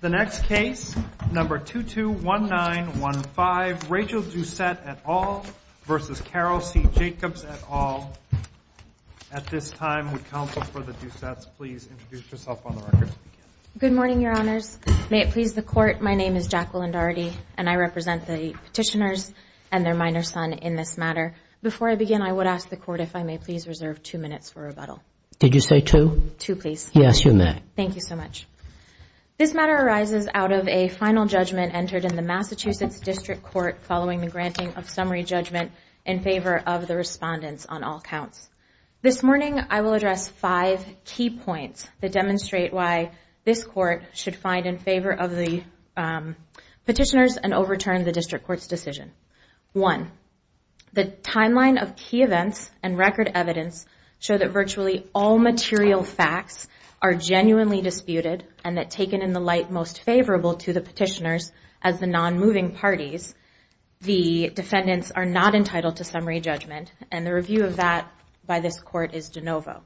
The next case, number 221915, Rachel Doucette et al. versus Carol C. Jacobs et al. At this time, would counsel for the Doucettes please introduce yourself on the record. Good morning, Your Honors. May it please the Court, my name is Jacqueline Dougherty, and I represent the petitioners and their minor son in this matter. Before I begin, I would ask the Court if I may please reserve two minutes for rebuttal. Did you say two? Two, please. Yes, you may. Thank you so much. This matter arises out of a final judgment entered in the Massachusetts District Court following the granting of summary judgment in favor of the respondents on all counts. This morning I will address five key points that demonstrate why this Court should find in favor of the petitioners and overturn the District Court's decision. One, the timeline of key events and record evidence show that virtually all material facts are genuinely disputed and that taken in the light most favorable to the petitioners as the non-moving parties, the defendants are not entitled to summary judgment, and the review of that by this Court is de novo.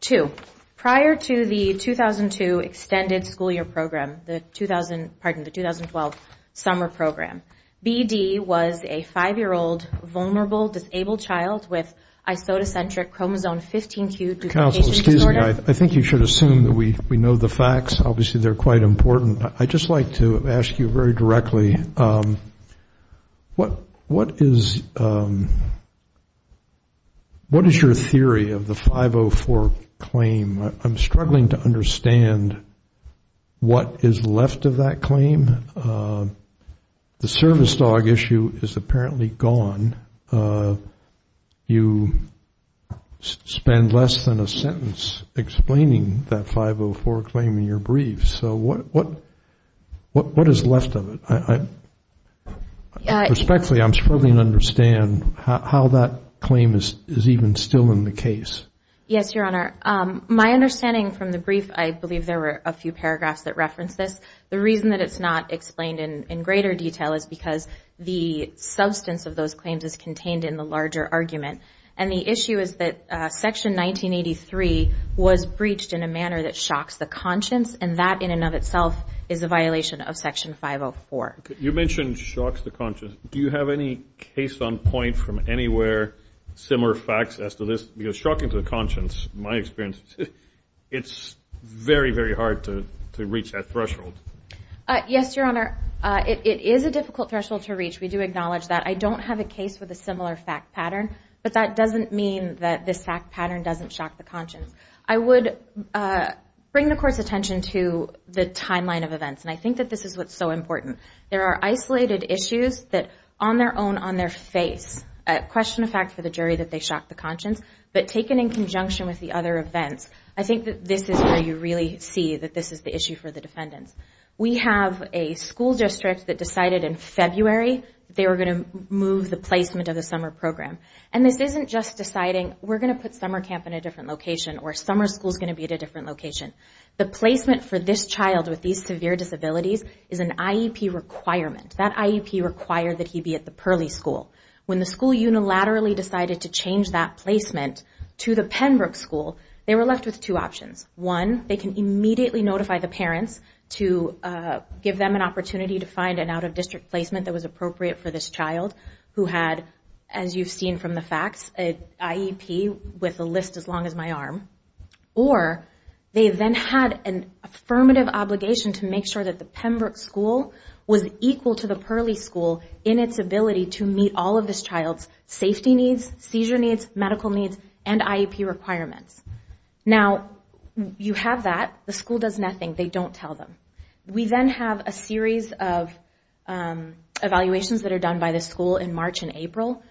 Two, prior to the 2002 extended school year program, the 2012 summer program, B.D. was a 5-year-old vulnerable disabled child with isotocentric chromosome 15Q duplication disorder. Excuse me. I think you should assume that we know the facts. Obviously, they're quite important. I'd just like to ask you very directly, what is your theory of the 504 claim? I'm struggling to understand what is left of that claim. The service dog issue is apparently gone. You spend less than a sentence explaining that 504 claim in your brief. So what is left of it? Respectfully, I'm struggling to understand how that claim is even still in the case. Yes, Your Honor. My understanding from the brief, I believe there were a few paragraphs that referenced this. The reason that it's not explained in greater detail is because the substance of those claims is contained in the larger argument. And the issue is that Section 1983 was breached in a manner that shocks the conscience, and that in and of itself is a violation of Section 504. You mentioned shocks the conscience. Do you have any case on point from anywhere similar facts as to this? Because shocking to the conscience, in my experience, it's very, very hard to reach that threshold. Yes, Your Honor. It is a difficult threshold to reach. We do acknowledge that. I don't have a case with a similar fact pattern, but that doesn't mean that this fact pattern doesn't shock the conscience. I would bring the Court's attention to the timeline of events, and I think that this is what's so important. There are isolated issues that on their own, on their face, question of fact for the jury that they shocked the conscience, but taken in conjunction with the other events, I think that this is where you really see that this is the issue for the defendants. We have a school district that decided in February they were going to move the placement of the summer program. And this isn't just deciding we're going to put summer camp in a different location or summer school is going to be at a different location. The placement for this child with these severe disabilities is an IEP requirement. That IEP required that he be at the Pearly School. When the school unilaterally decided to change that placement to the Penbrook School, they were left with two options. One, they can immediately notify the parents to give them an opportunity to find an out-of-district placement that was appropriate for this child who had, as you've seen from the facts, an IEP with a list as long as my arm. Or, they then had an affirmative obligation to make sure that the Penbrook School was equal to the Pearly School in its ability to meet all of this child's safety needs, seizure needs, medical needs, and IEP requirements. Now, you have that. The school does nothing. They don't tell them. We then have a series of evaluations that are done by the school in March and April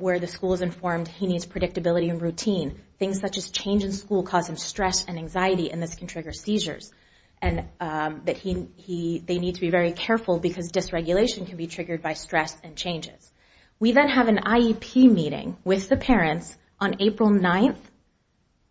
where the school is informed he needs predictability and routine. Things such as change in school cause him stress and anxiety and this can trigger seizures. They need to be very careful because dysregulation can be triggered by stress and changes. We then have an IEP meeting with the parents on April 9th.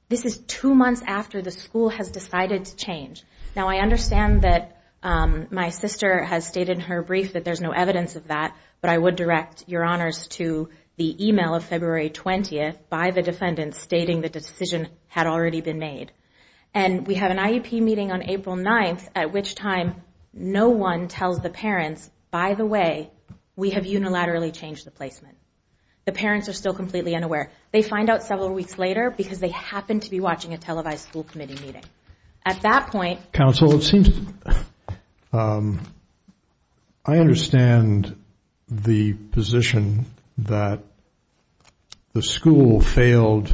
This is two months after the school has decided to change. Now, I understand that my sister has stated in her brief that there's no evidence of that, but I would direct your honors to the email of February 20th by the defendant stating the decision had already been made. We have an IEP meeting on April 9th at which time no one tells the parents, by the way, we have unilaterally changed the placement. The parents are still completely unaware. They find out several weeks later because they happen to be watching a televised school committee meeting. At that point, counsel, it seems I understand the position that the school failed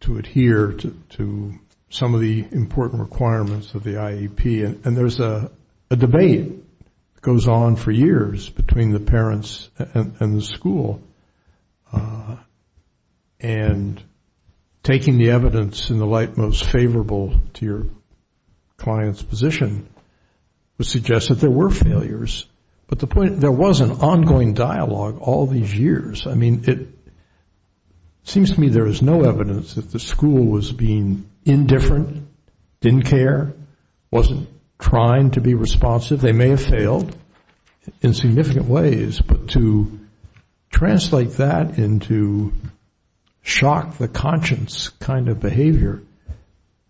to adhere to some of the important requirements of the IEP. And there's a debate that goes on for years between the parents and the school. And taking the evidence in the light most favorable to your client's position would suggest that there were failures. But there was an ongoing dialogue all these years. I mean, it seems to me there is no evidence that the school was being indifferent, didn't care, wasn't trying to be responsive. They may have failed in significant ways. But to translate that into shock the conscience kind of behavior,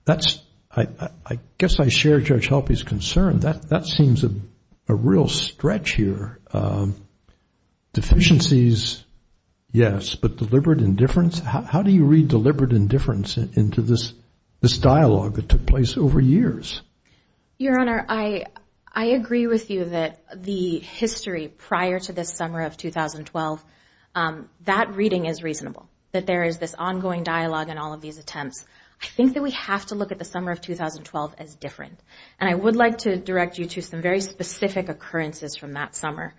that's I guess I share Judge Helpe's concern. That seems a real stretch here. Deficiencies, yes, but deliberate indifference. How do you read deliberate indifference into this dialogue that took place over years? Your Honor, I agree with you that the history prior to the summer of 2012, that reading is reasonable. That there is this ongoing dialogue and all of these attempts. I think that we have to look at the summer of 2012 as different. And I would like to direct you to some very specific occurrences from that summer.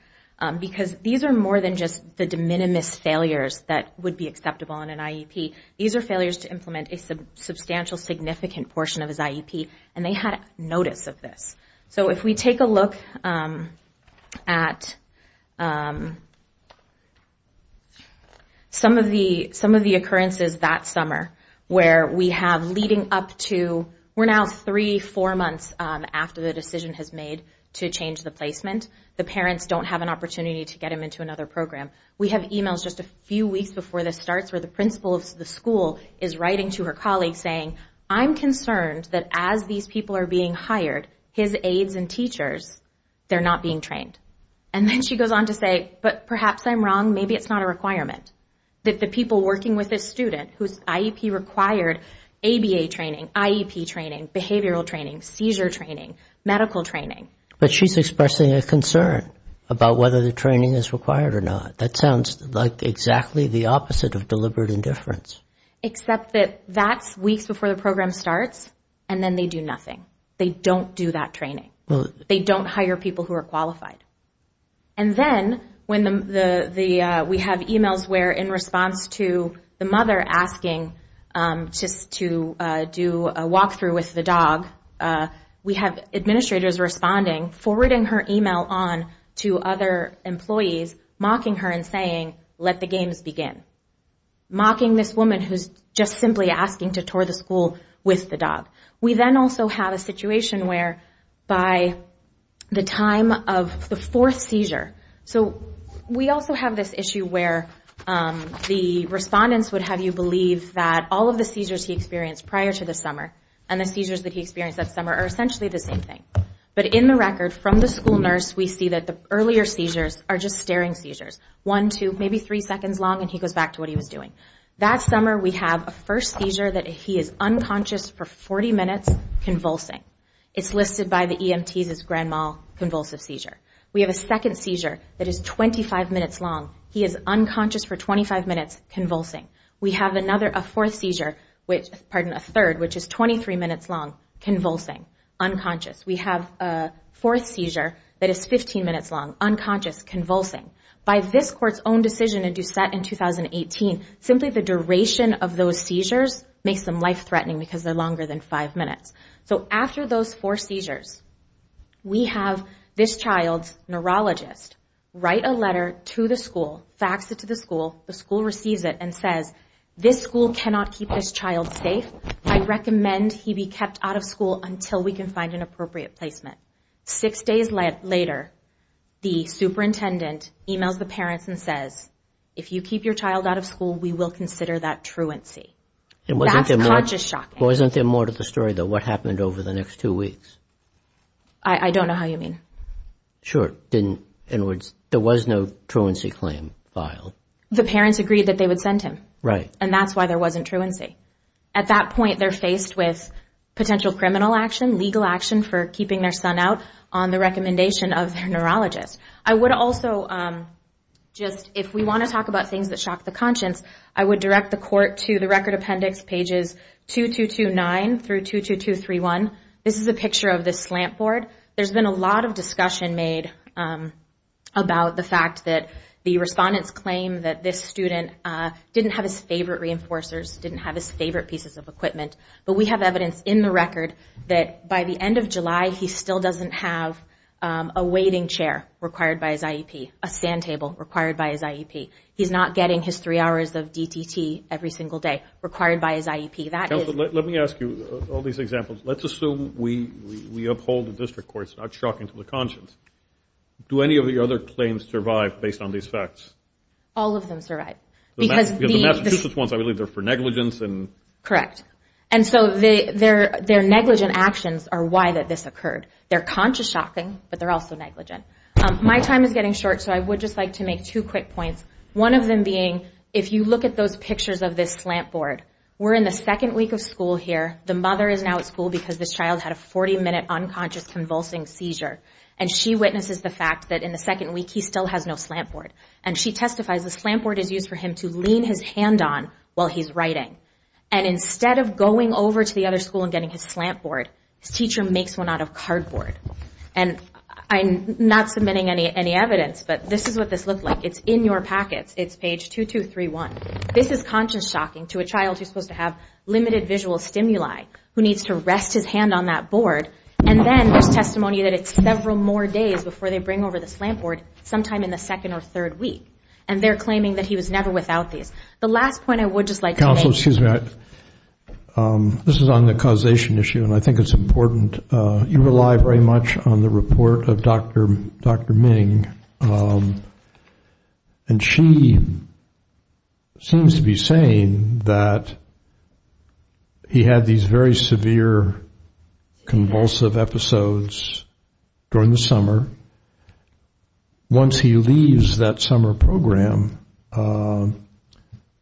Because these are more than just the de minimis failures that would be acceptable in an IEP. These are failures to implement a substantial significant portion of his IEP and they had notice of this. So if we take a look at some of the occurrences that summer where we have leading up to, we're now three, four months after the decision has made to change the placement. The parents don't have an opportunity to get him into another program. We have e-mails just a few weeks before this starts where the principal of the school is writing to her colleague saying, I'm concerned that as these people are being hired, his aides and teachers, they're not being trained. And then she goes on to say, but perhaps I'm wrong, maybe it's not a requirement. That the people working with this student whose IEP required ABA training, IEP training, behavioral training, seizure training, medical training. But she's expressing a concern about whether the training is required or not. That sounds like exactly the opposite of deliberate indifference. Except that that's weeks before the program starts and then they do nothing. They don't do that training. They don't hire people who are qualified. And then when we have e-mails where in response to the mother asking just to do a walk-through with the dog, we have administrators responding, forwarding her e-mail on to other employees, mocking her and saying, let the games begin. Mocking this woman who's just simply asking to tour the school with the dog. We then also have a situation where by the time of the fourth seizure, so we also have this issue where the respondents would have you believe that all of the seizures he experienced prior to the summer and the seizures that he experienced that summer are essentially the same thing. But in the record from the school nurse, we see that the earlier seizures are just staring seizures. One, two, maybe three seconds long and he goes back to what he was doing. That summer we have a first seizure that he is unconscious for 40 minutes convulsing. It's listed by the EMTs as grand mal convulsive seizure. We have a second seizure that is 25 minutes long. He is unconscious for 25 minutes convulsing. We have a third, which is 23 minutes long, convulsing, unconscious. We have a fourth seizure that is 15 minutes long, unconscious, convulsing. By this court's own decision in Doucette in 2018, simply the duration of those seizures makes them life-threatening because they're longer than five minutes. So after those four seizures, we have this child's neurologist write a letter to the school, the school receives it and says, this school cannot keep this child safe. I recommend he be kept out of school until we can find an appropriate placement. Six days later, the superintendent emails the parents and says, if you keep your child out of school, we will consider that truancy. That's conscious shocking. Wasn't there more to the story, though? What happened over the next two weeks? I don't know how you mean. Sure. In other words, there was no truancy claim filed. The parents agreed that they would send him. Right. And that's why there wasn't truancy. At that point, they're faced with potential criminal action, legal action for keeping their son out on the recommendation of their neurologist. I would also just, if we want to talk about things that shock the conscience, I would direct the court to the record appendix, pages 2229 through 22231. This is a picture of the slant board. There's been a lot of discussion made about the fact that the respondents claim that this student didn't have his favorite reinforcers, didn't have his favorite pieces of equipment. But we have evidence in the record that by the end of July, he still doesn't have a waiting chair required by his IEP, a sand table required by his IEP. He's not getting his three hours of DTT every single day required by his IEP. Let me ask you all these examples. Let's assume we uphold the district court's not shocking to the conscience. Do any of the other claims survive based on these facts? All of them survive. Because the Massachusetts ones, I believe, they're for negligence. Correct. And so their negligent actions are why this occurred. They're conscious shocking, but they're also negligent. My time is getting short, so I would just like to make two quick points, one of them being if you look at those pictures of this slant board, we're in the second week of school here. The mother is now at school because this child had a 40-minute unconscious convulsing seizure. And she witnesses the fact that in the second week he still has no slant board. And she testifies the slant board is used for him to lean his hand on while he's writing. And instead of going over to the other school and getting his slant board, his teacher makes one out of cardboard. And I'm not submitting any evidence, but this is what this looked like. It's in your packets. It's page 2231. This is conscious shocking to a child who's supposed to have limited visual stimuli, who needs to rest his hand on that board. And then there's testimony that it's several more days before they bring over the slant board, sometime in the second or third week. And they're claiming that he was never without these. The last point I would just like to make. Counsel, excuse me. This is on the causation issue, and I think it's important. You rely very much on the report of Dr. Ming. And she seems to be saying that he had these very severe convulsive episodes during the summer. Once he leaves that summer program,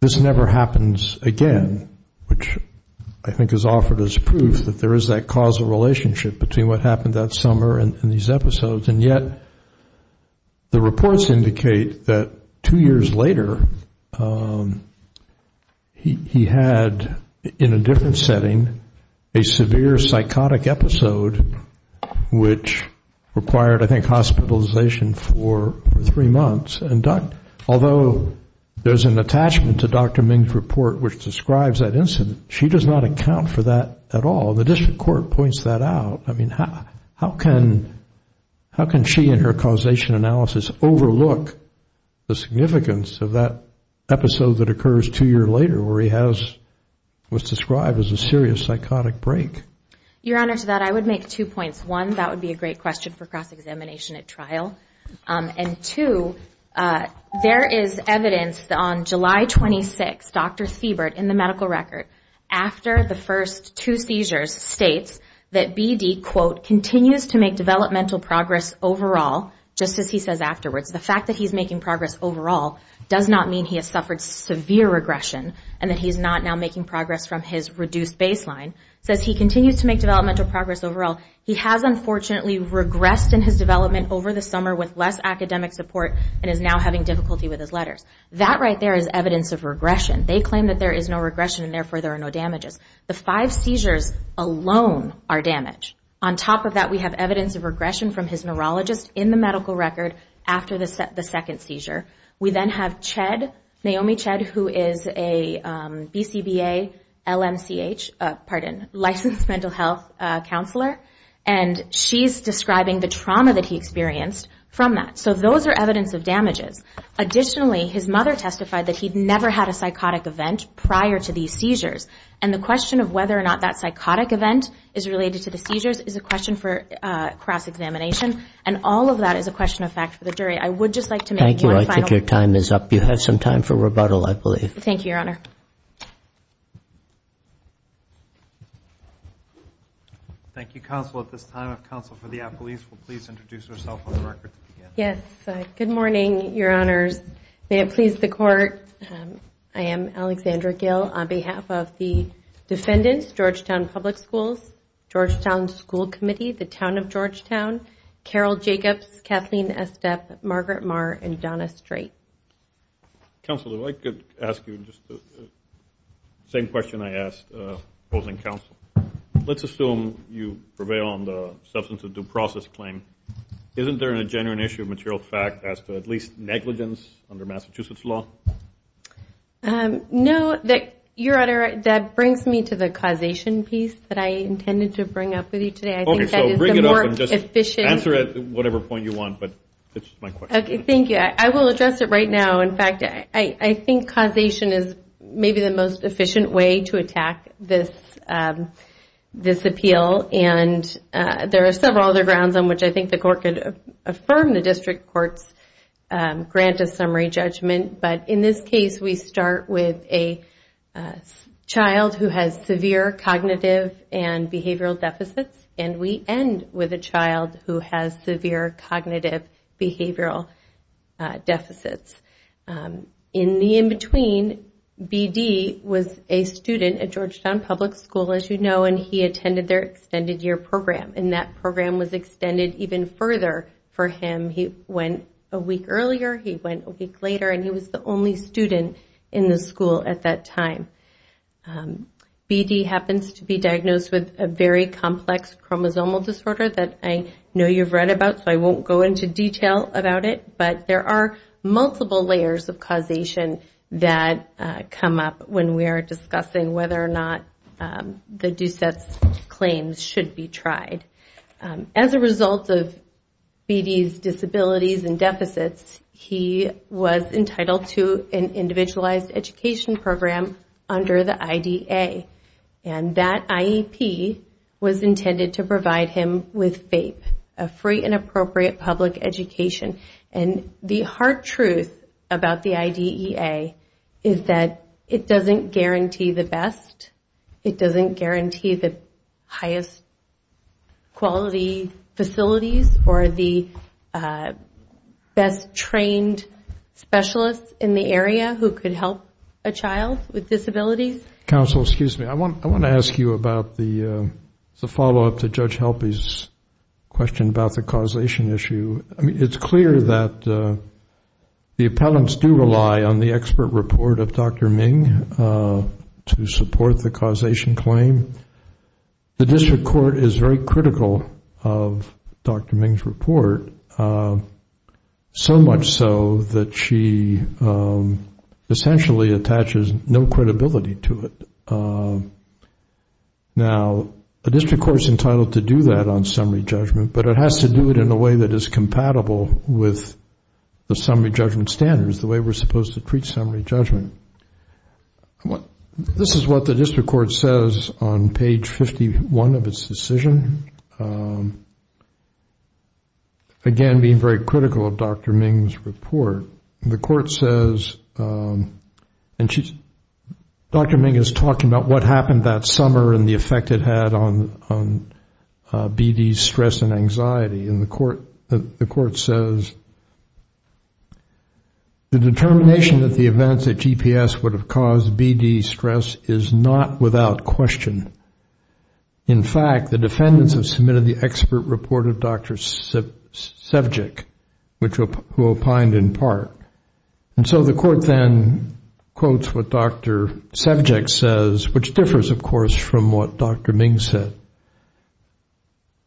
this never happens again, which I think is offered as proof that there is that causal relationship between what happened that summer and these episodes, and yet the reports indicate that two years later he had, in a different setting, a severe psychotic episode, which required, I think, hospitalization for three months. Although there's an attachment to Dr. Ming's report which describes that incident, she does not account for that at all. The district court points that out. I mean, how can she in her causation analysis overlook the significance of that episode that occurs two years later where he has what's described as a serious psychotic break? Your Honor, to that I would make two points. One, that would be a great question for cross-examination at trial. And two, there is evidence on July 26, Dr. Siebert, in the medical record, after the first two seizures, states that BD, quote, continues to make developmental progress overall, just as he says afterwards. The fact that he's making progress overall does not mean he has suffered severe regression and that he's not now making progress from his reduced baseline. It says he continues to make developmental progress overall. He has, unfortunately, regressed in his development over the summer with less academic support and is now having difficulty with his letters. That right there is evidence of regression. They claim that there is no regression and, therefore, there are no damages. The five seizures alone are damage. On top of that, we have evidence of regression from his neurologist in the medical record after the second seizure. We then have Ched, Naomi Ched, who is a BCBA LMCH, pardon, licensed mental health counselor, and she's describing the trauma that he experienced from that. So those are evidence of damages. Additionally, his mother testified that he'd never had a psychotic event prior to these seizures. And the question of whether or not that psychotic event is related to the seizures is a question for cross-examination. And all of that is a question of fact for the jury. I would just like to make one final point. Thank you. I think your time is up. You have some time for rebuttal, I believe. Thank you, Your Honor. Thank you, counsel. At this time, if counsel for the appellees will please introduce herself on the record. Yes. Good morning, Your Honors. May it please the Court, I am Alexandra Gill. On behalf of the defendants, Georgetown Public Schools, Georgetown School Committee, the Town of Georgetown, Carol Jacobs, Kathleen Estep, Margaret Marr, and Donna Strait. Counsel, if I could ask you just the same question I asked opposing counsel. Let's assume you prevail on the substance of due process claim. Isn't there a genuine issue of material fact as to at least negligence under Massachusetts law? No. Your Honor, that brings me to the causation piece that I intended to bring up with you today. Okay, so bring it up and just answer it at whatever point you want, but it's my question. Thank you. I will address it right now. In fact, I think causation is maybe the most efficient way to attack this appeal, and there are several other grounds on which I think the Court could affirm the district court's grant of summary judgment. But in this case, we start with a child who has severe cognitive and behavioral deficits, and we end with a child who has severe cognitive behavioral deficits. In the in-between, B.D. was a student at Georgetown Public School, as you know, and he attended their extended year program, and that program was extended even further for him. He went a week earlier, he went a week later, and he was the only student in the school at that time. B.D. happens to be diagnosed with a very complex chromosomal disorder that I know you've read about, so I won't go into detail about it, but there are multiple layers of causation that come up when we are discussing whether or not the DUSETS claims should be tried. As a result of B.D.'s disabilities and deficits, he was entitled to an individualized education program under the IDEA, and that IEP was intended to provide him with FAPE, a free and appropriate public education. And the hard truth about the IDEA is that it doesn't guarantee the best, it doesn't guarantee the highest quality facilities or the best trained specialists in the area who could help a child with disabilities. Counsel, excuse me, I want to ask you about the follow-up to Judge Helpe's question about the causation issue. I mean, it's clear that the appellants do rely on the expert report of Dr. Ming to support the causation claim. The district court is very critical of Dr. Ming's report, so much so that she essentially attaches no credibility to it. Now, the district court is entitled to do that on summary judgment, but it has to do it in a way that is compatible with the summary judgment standards, the way we're supposed to treat summary judgment. This is what the district court says on page 51 of its decision, again, being very critical of Dr. Ming's report. The court says, and Dr. Ming is talking about what happened that summer and the effect it had on BD's stress and anxiety, and the court says, the determination that the events at GPS would have caused BD's stress is not without question. In fact, the defendants have submitted the expert report of Dr. Sevcik, who opined in part. And so the court then quotes what Dr. Sevcik says, which differs, of course, from what Dr. Ming said.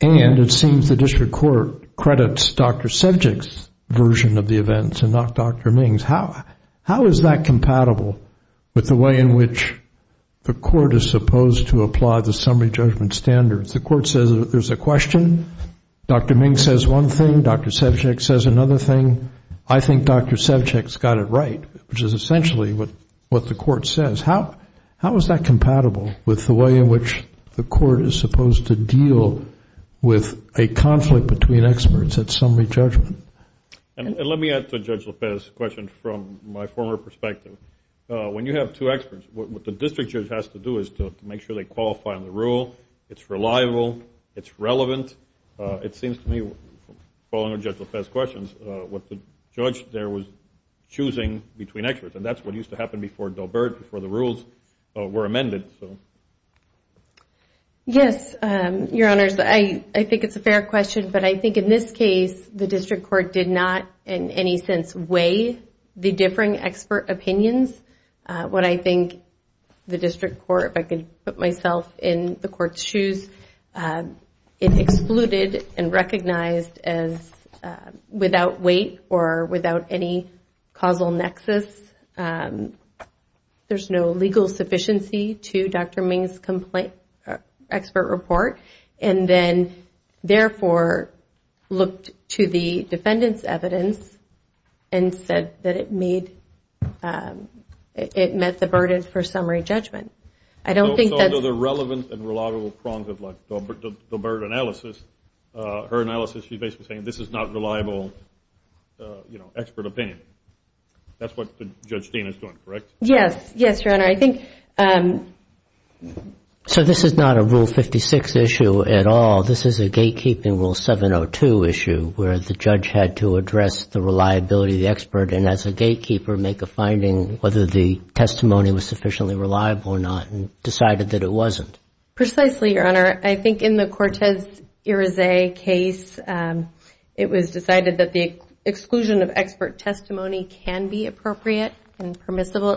And it seems the district court credits Dr. Sevcik's version of the events and not Dr. Ming's. How is that compatible with the way in which the court is supposed to apply the summary judgment standards? The court says there's a question, Dr. Ming says one thing, Dr. Sevcik says another thing. I think Dr. Sevcik's got it right, which is essentially what the court says. How is that compatible with the way in which the court is supposed to deal with a conflict between experts at summary judgment? And let me add to Judge Lopez's question from my former perspective. When you have two experts, what the district judge has to do is to make sure they qualify on the rule, it's reliable, it's relevant. It seems to me, following Judge Lopez's questions, what the judge there was choosing between experts. And that's what used to happen before Daubert, before the rules were amended. Yes, Your Honors, I think it's a fair question. But I think in this case, the district court did not in any sense weigh the differing expert opinions. What I think the district court, if I could put myself in the court's shoes, it excluded and recognized as without weight or without any causal nexus. There's no legal sufficiency to Dr. Ming's expert report. And then, therefore, looked to the defendant's evidence and said that it met the burden for summary judgment. I don't think that's... Yes. Yes, Your Honor. I think... Precisely, Your Honor. And permissible at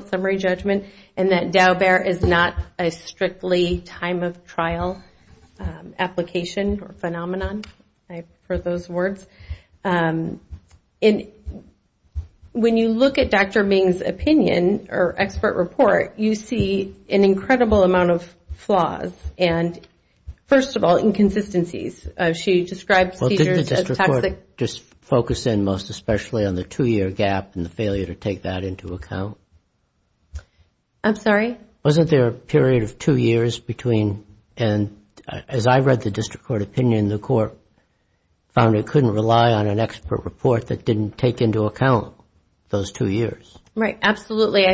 summary judgment, and that Daubert is not a strictly time of trial application or phenomenon. I prefer those words. When you look at Dr. Ming's opinion or expert report, you see an incredible amount of flaws. And first of all, inconsistencies. She describes teachers as toxic... I'm sorry? Right. Absolutely. I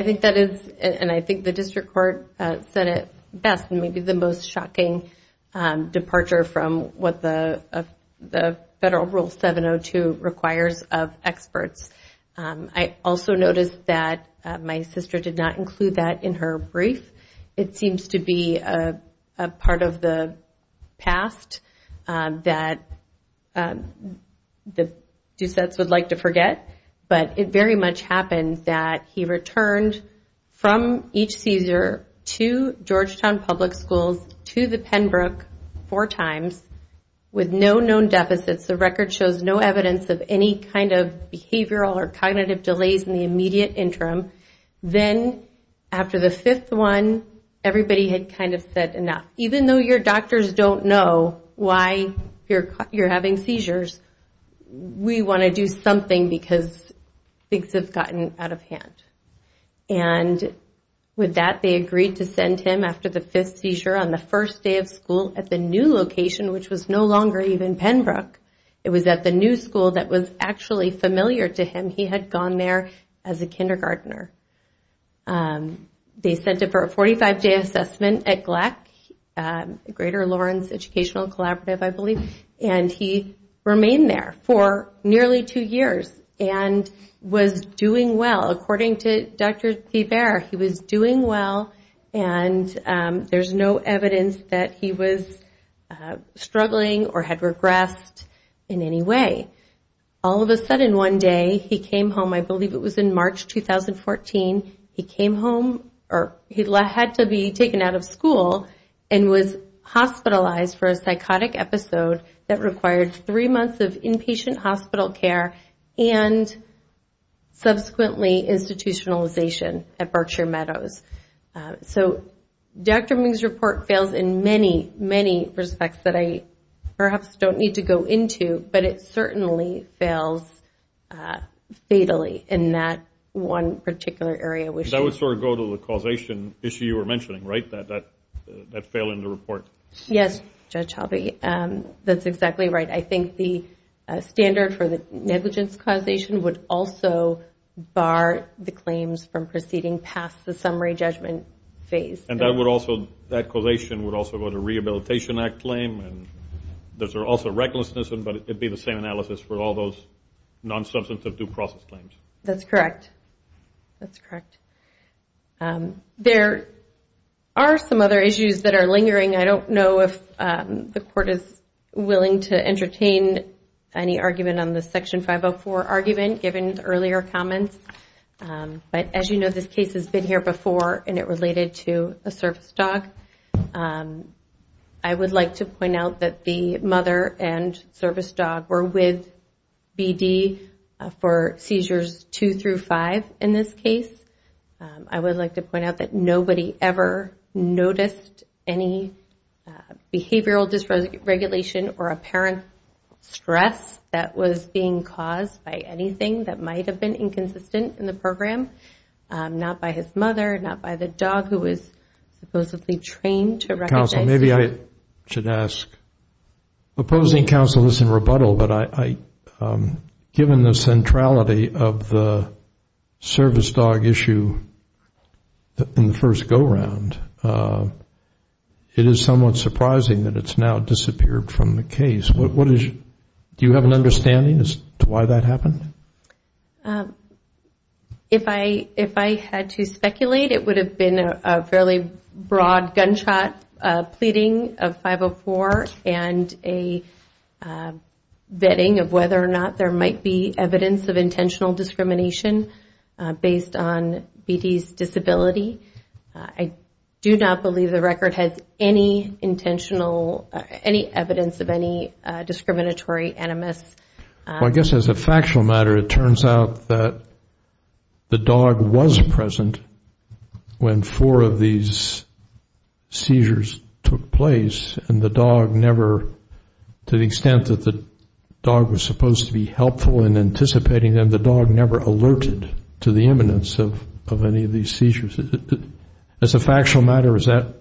think that is, and I think the district court said it best, the Federal Rule 702 requires of experts. I also noticed that my sister did not include that in her brief. It seems to be a part of the past that the Doucettes would like to forget. But it very much happened that he returned from each seizure to Georgetown Public Schools, to the Pembroke four times with no known deficits. The record shows no evidence of any kind of behavioral or cognitive delays in the immediate interim. Then after the fifth one, everybody had kind of said enough. Even though your doctors don't know why you're having seizures, we want to do something because things have gotten out of hand. And with that, they agreed to send him after the fifth seizure on the first day of school at the new location, which was no longer even Pembroke. It was at the new school that was actually familiar to him. He had gone there as a kindergartner. They sent him for a 45-day assessment at GLEC, Greater Lawrence Educational Collaborative, I believe. And he remained there for nearly two years and was doing well. According to Dr. Thiebert, he was doing well and there's no evidence that he was struggling or had regressed in any way. All of a sudden, one day, he came home. I believe it was in March 2014. He came home or he had to be taken out of school and was hospitalized for a psychotic episode that required three months of inpatient hospital care and subsequently institutionalization at Berkshire Meadows. So Dr. Ming's report fails in many, many respects that I perhaps don't need to go into, but it certainly fails fatally in that one particular area. That would sort of go to the causation issue you were mentioning, right, that fail in the report? Yes, Judge Halvey. That's exactly right. I think the standard for the negligence causation would also bar the claims from proceeding past the summary judgment phase. And that causation would also go to a Rehabilitation Act claim. And those are also recklessness, but it would be the same analysis for all those non-substantive due process claims. That's correct. That's correct. There are some other issues that are lingering. I don't know if the Court is willing to entertain any argument on the Section 504 argument, given the earlier comments. But as you know, this case has been here before and it related to a service dog. I would like to point out that the mother and service dog were with BD for seizures two through five in this case. I would like to point out that nobody ever noticed any behavioral dysregulation or apparent stress that was being caused by anything that might have been inconsistent in the program. Not by his mother, not by the dog who was supposedly trained to recognize seizures. Counsel, maybe I should ask, opposing counsel is in rebuttal, but given the centrality of the service dog issue in the first go-round, it is somewhat surprising that it's now disappeared from the case. Do you have an understanding as to why that happened? If I had to speculate, it would have been a fairly broad gunshot pleading of 504 and a vetting of whether or not there might be evidence of intentional discrimination based on BD's disability. I do not believe the record has any intentional, any evidence of any discriminatory animus. I guess as a factual matter, it turns out that the dog was present when four of these seizures took place. And the dog never, to the extent that the dog was supposed to be helpful in anticipating them, the dog never alerted to the imminence of any of these seizures. As a factual matter, is that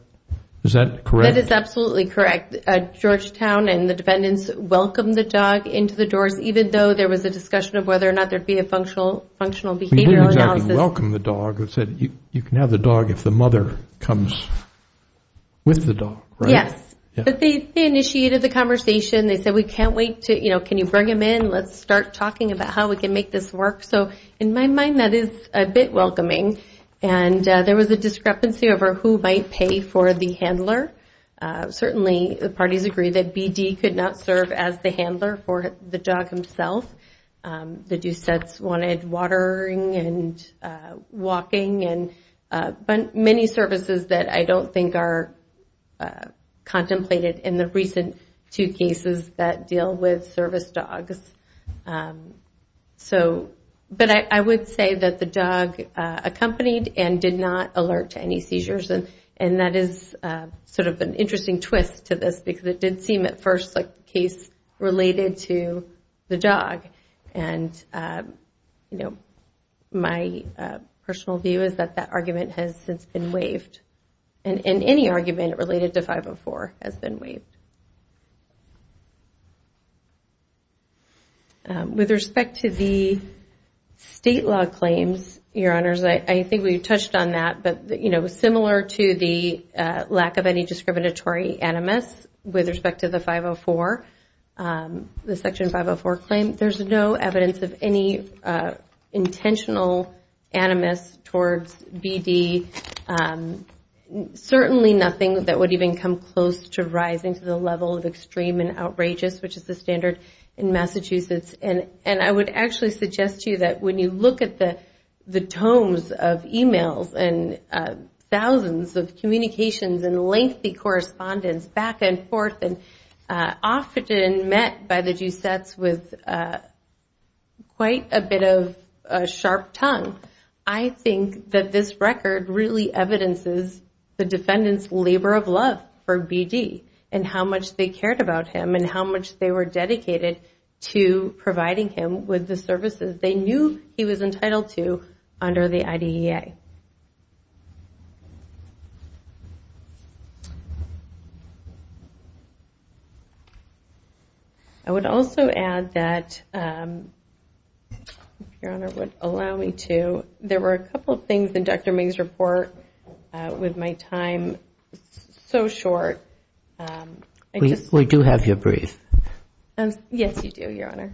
correct? That is absolutely correct. Georgetown and the defendants welcomed the dog into the doors, even though there was a discussion of whether or not there would be a functional behavioral analysis. They didn't exactly welcome the dog. You can have the dog if the mother comes with the dog, right? Yes, but they initiated the conversation. They said we can't wait to, you know, can you bring him in, let's start talking about how we can make this work. So in my mind, that is a bit welcoming. And there was a discrepancy over who might pay for the handler. Certainly the parties agreed that BD could not serve as the handler for the dog himself. The Doucettes wanted watering and walking. But many services that I don't think are contemplated in the recent two cases that deal with service dogs. But I would say that the dog accompanied and did not alert to any seizures. And that is sort of an interesting twist to this, because it did seem at first like the case related to the dog. And my personal view is that that argument has since been waived. And any argument related to 504 has been waived. With respect to the state law claims, Your Honors, I think we touched on that. But similar to the lack of any discriminatory animus with respect to the 504, the Section 504 claim, there's no evidence of any intentional animus towards BD. Certainly nothing that would even come close to rising to the level of extreme and outrageous, which is the standard in Massachusetts. And I would actually suggest to you that when you look at the tomes of e-mails and thousands of communications and lengthy correspondence back and forth, and often met by the Doucettes with quite a bit of sharp tongue, I think that this record really evidences the defendant's labor of love for BD and how much they cared about him and how much they were dedicated to providing him with the services they knew he was entitled to under the IDEA. I would also add that, if Your Honor would allow me to, there were a couple of things in Dr. Ming's report with my time so short. We do have your brief. Yes, you do, Your Honor.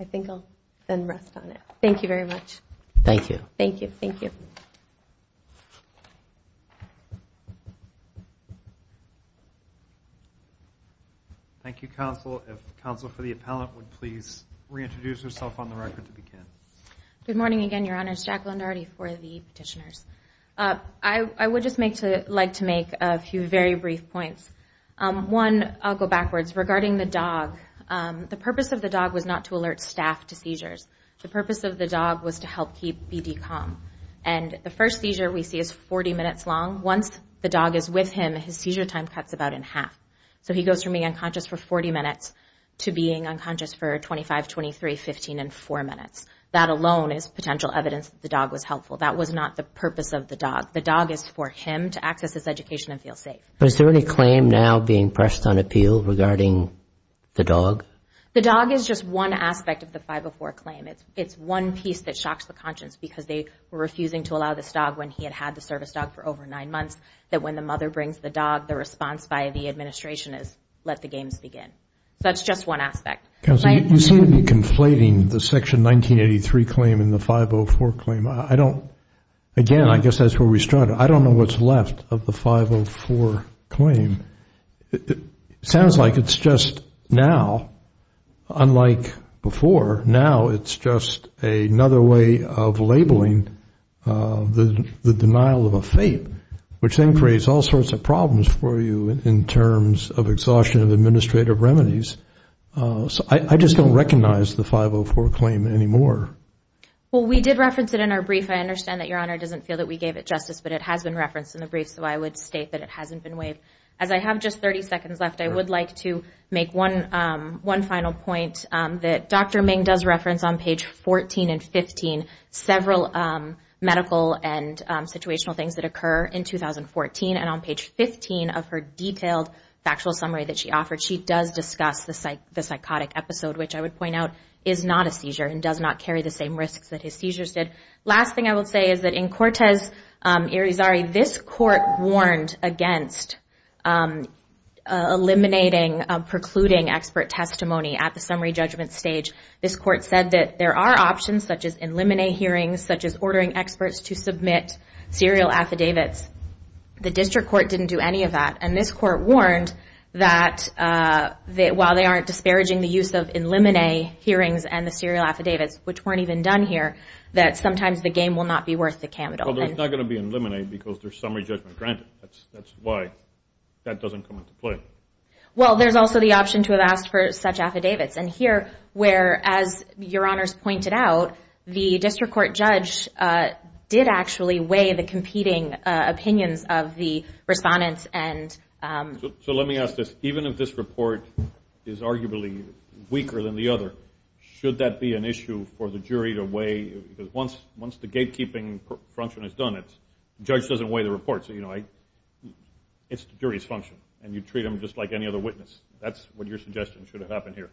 I think I'll then rest on it. Thank you very much. Thank you, counsel. If the counsel for the appellant would please reintroduce herself on the record to begin. Good morning again, Your Honors. Jacqueline Daugherty for the petitioners. I would just like to make a few very brief points. One, I'll go backwards. Regarding the dog, the purpose of the dog was not to alert staff to seizures. The purpose of the dog was to help keep BD calm. And the first seizure we see is 40 minutes long. Once the dog is with him, his seizure time cuts about in half. So he goes from being unconscious for 40 minutes to being unconscious for 25, 23, 15, and four minutes. That alone is potential evidence that the dog was helpful. That was not the purpose of the dog. The dog is for him to access his education and feel safe. The dog is just one aspect of the 504 claim. It's one piece that shocks the conscience, because they were refusing to allow this dog when he had had the service dog for over nine months, that when the mother brings the dog, the response by the administration is let the games begin. So that's just one aspect. I don't know what's left of the 504 claim. It sounds like it's just now, unlike before. Now it's just another way of labeling the denial of a fate, which then creates all sorts of problems for you in terms of exhaustion of administrative remedies. I just don't recognize the 504 claim anymore. Well, we did reference it in our brief. I understand that Your Honor doesn't feel that we gave it justice, but it has been referenced in the brief, so I would state that it hasn't been waived. As I have just 30 seconds left, I would like to make one final point that Dr. Ming does reference on page 14 and 15, several medical and situational things that occur in 2014. And on page 15 of her detailed factual summary that she offered, she does discuss the psychotic episode, which I would point out is not a seizure and does not carry the same risks that his seizures did. Last thing I will say is that in Cortez-Irizarry, this court warned against eliminating precluding expert testimony at the summary judgment stage. This court said that there are options, such as in limine hearings, such as ordering experts to submit serial affidavits. The district court didn't do any of that. It said in limine hearings and the serial affidavits, which weren't even done here, that sometimes the game will not be worth the candle. Although it's not going to be in limine because there's summary judgment granted. That's why that doesn't come into play. Well, there's also the option to have asked for such affidavits. And here, where, as Your Honors pointed out, the district court judge did actually weigh the competing opinions of the respondents. So let me ask this. Even if this report is arguably weaker than the other, should that be an issue for the jury to weigh? Because once the gatekeeping function is done, the judge doesn't weigh the report. It's the jury's function, and you treat them just like any other witness. That's what your suggestion should have happened here.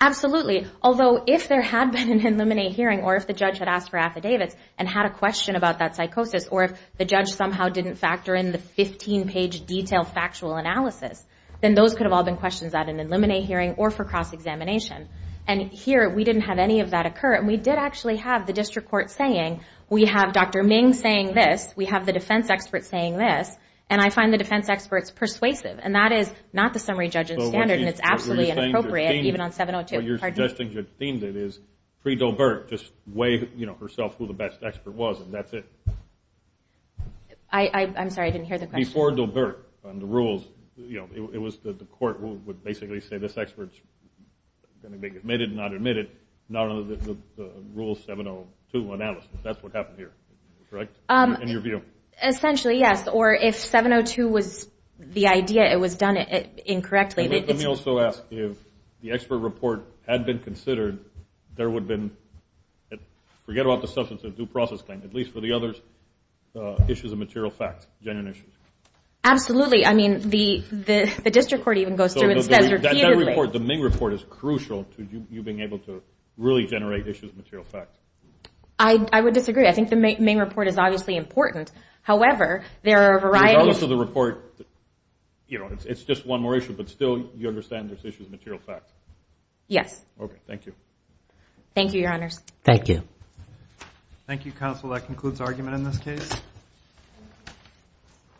Absolutely. Although, if there had been an in limine hearing or if the judge had asked for affidavits and had a question about that psychosis, or if the judge somehow didn't factor in the 15-page detailed factual analysis, then those could have all been questions at an in limine hearing or for cross-examination. And here, we didn't have any of that occur, and we did actually have the district court saying, we have Dr. Ming saying this, we have the defense experts saying this, and I find the defense experts persuasive. And that is not the summary judge's standard, and it's absolutely inappropriate even on 702. What you're suggesting is, pre-Dolbert, just weigh herself who the best expert was, and that's it. I'm sorry, I didn't hear the question. Before Dolbert and the rules, it was that the court would basically say, this expert's going to be admitted and not admitted, not under the rule 702 analysis. That's what happened here, correct, in your view? Essentially, yes, or if 702 was the idea, it was done incorrectly. Let me also ask, if the expert report had been considered, there would have been, forget about the substance of due process claim, at least for the others, issues of material facts, genuine issues. Absolutely. I mean, the district court even goes through and says repeatedly. The Ming report is crucial to you being able to really generate issues of material facts. I would disagree. I think the Ming report is obviously important. It's just one more issue, but still you understand there's issues of material facts? Yes.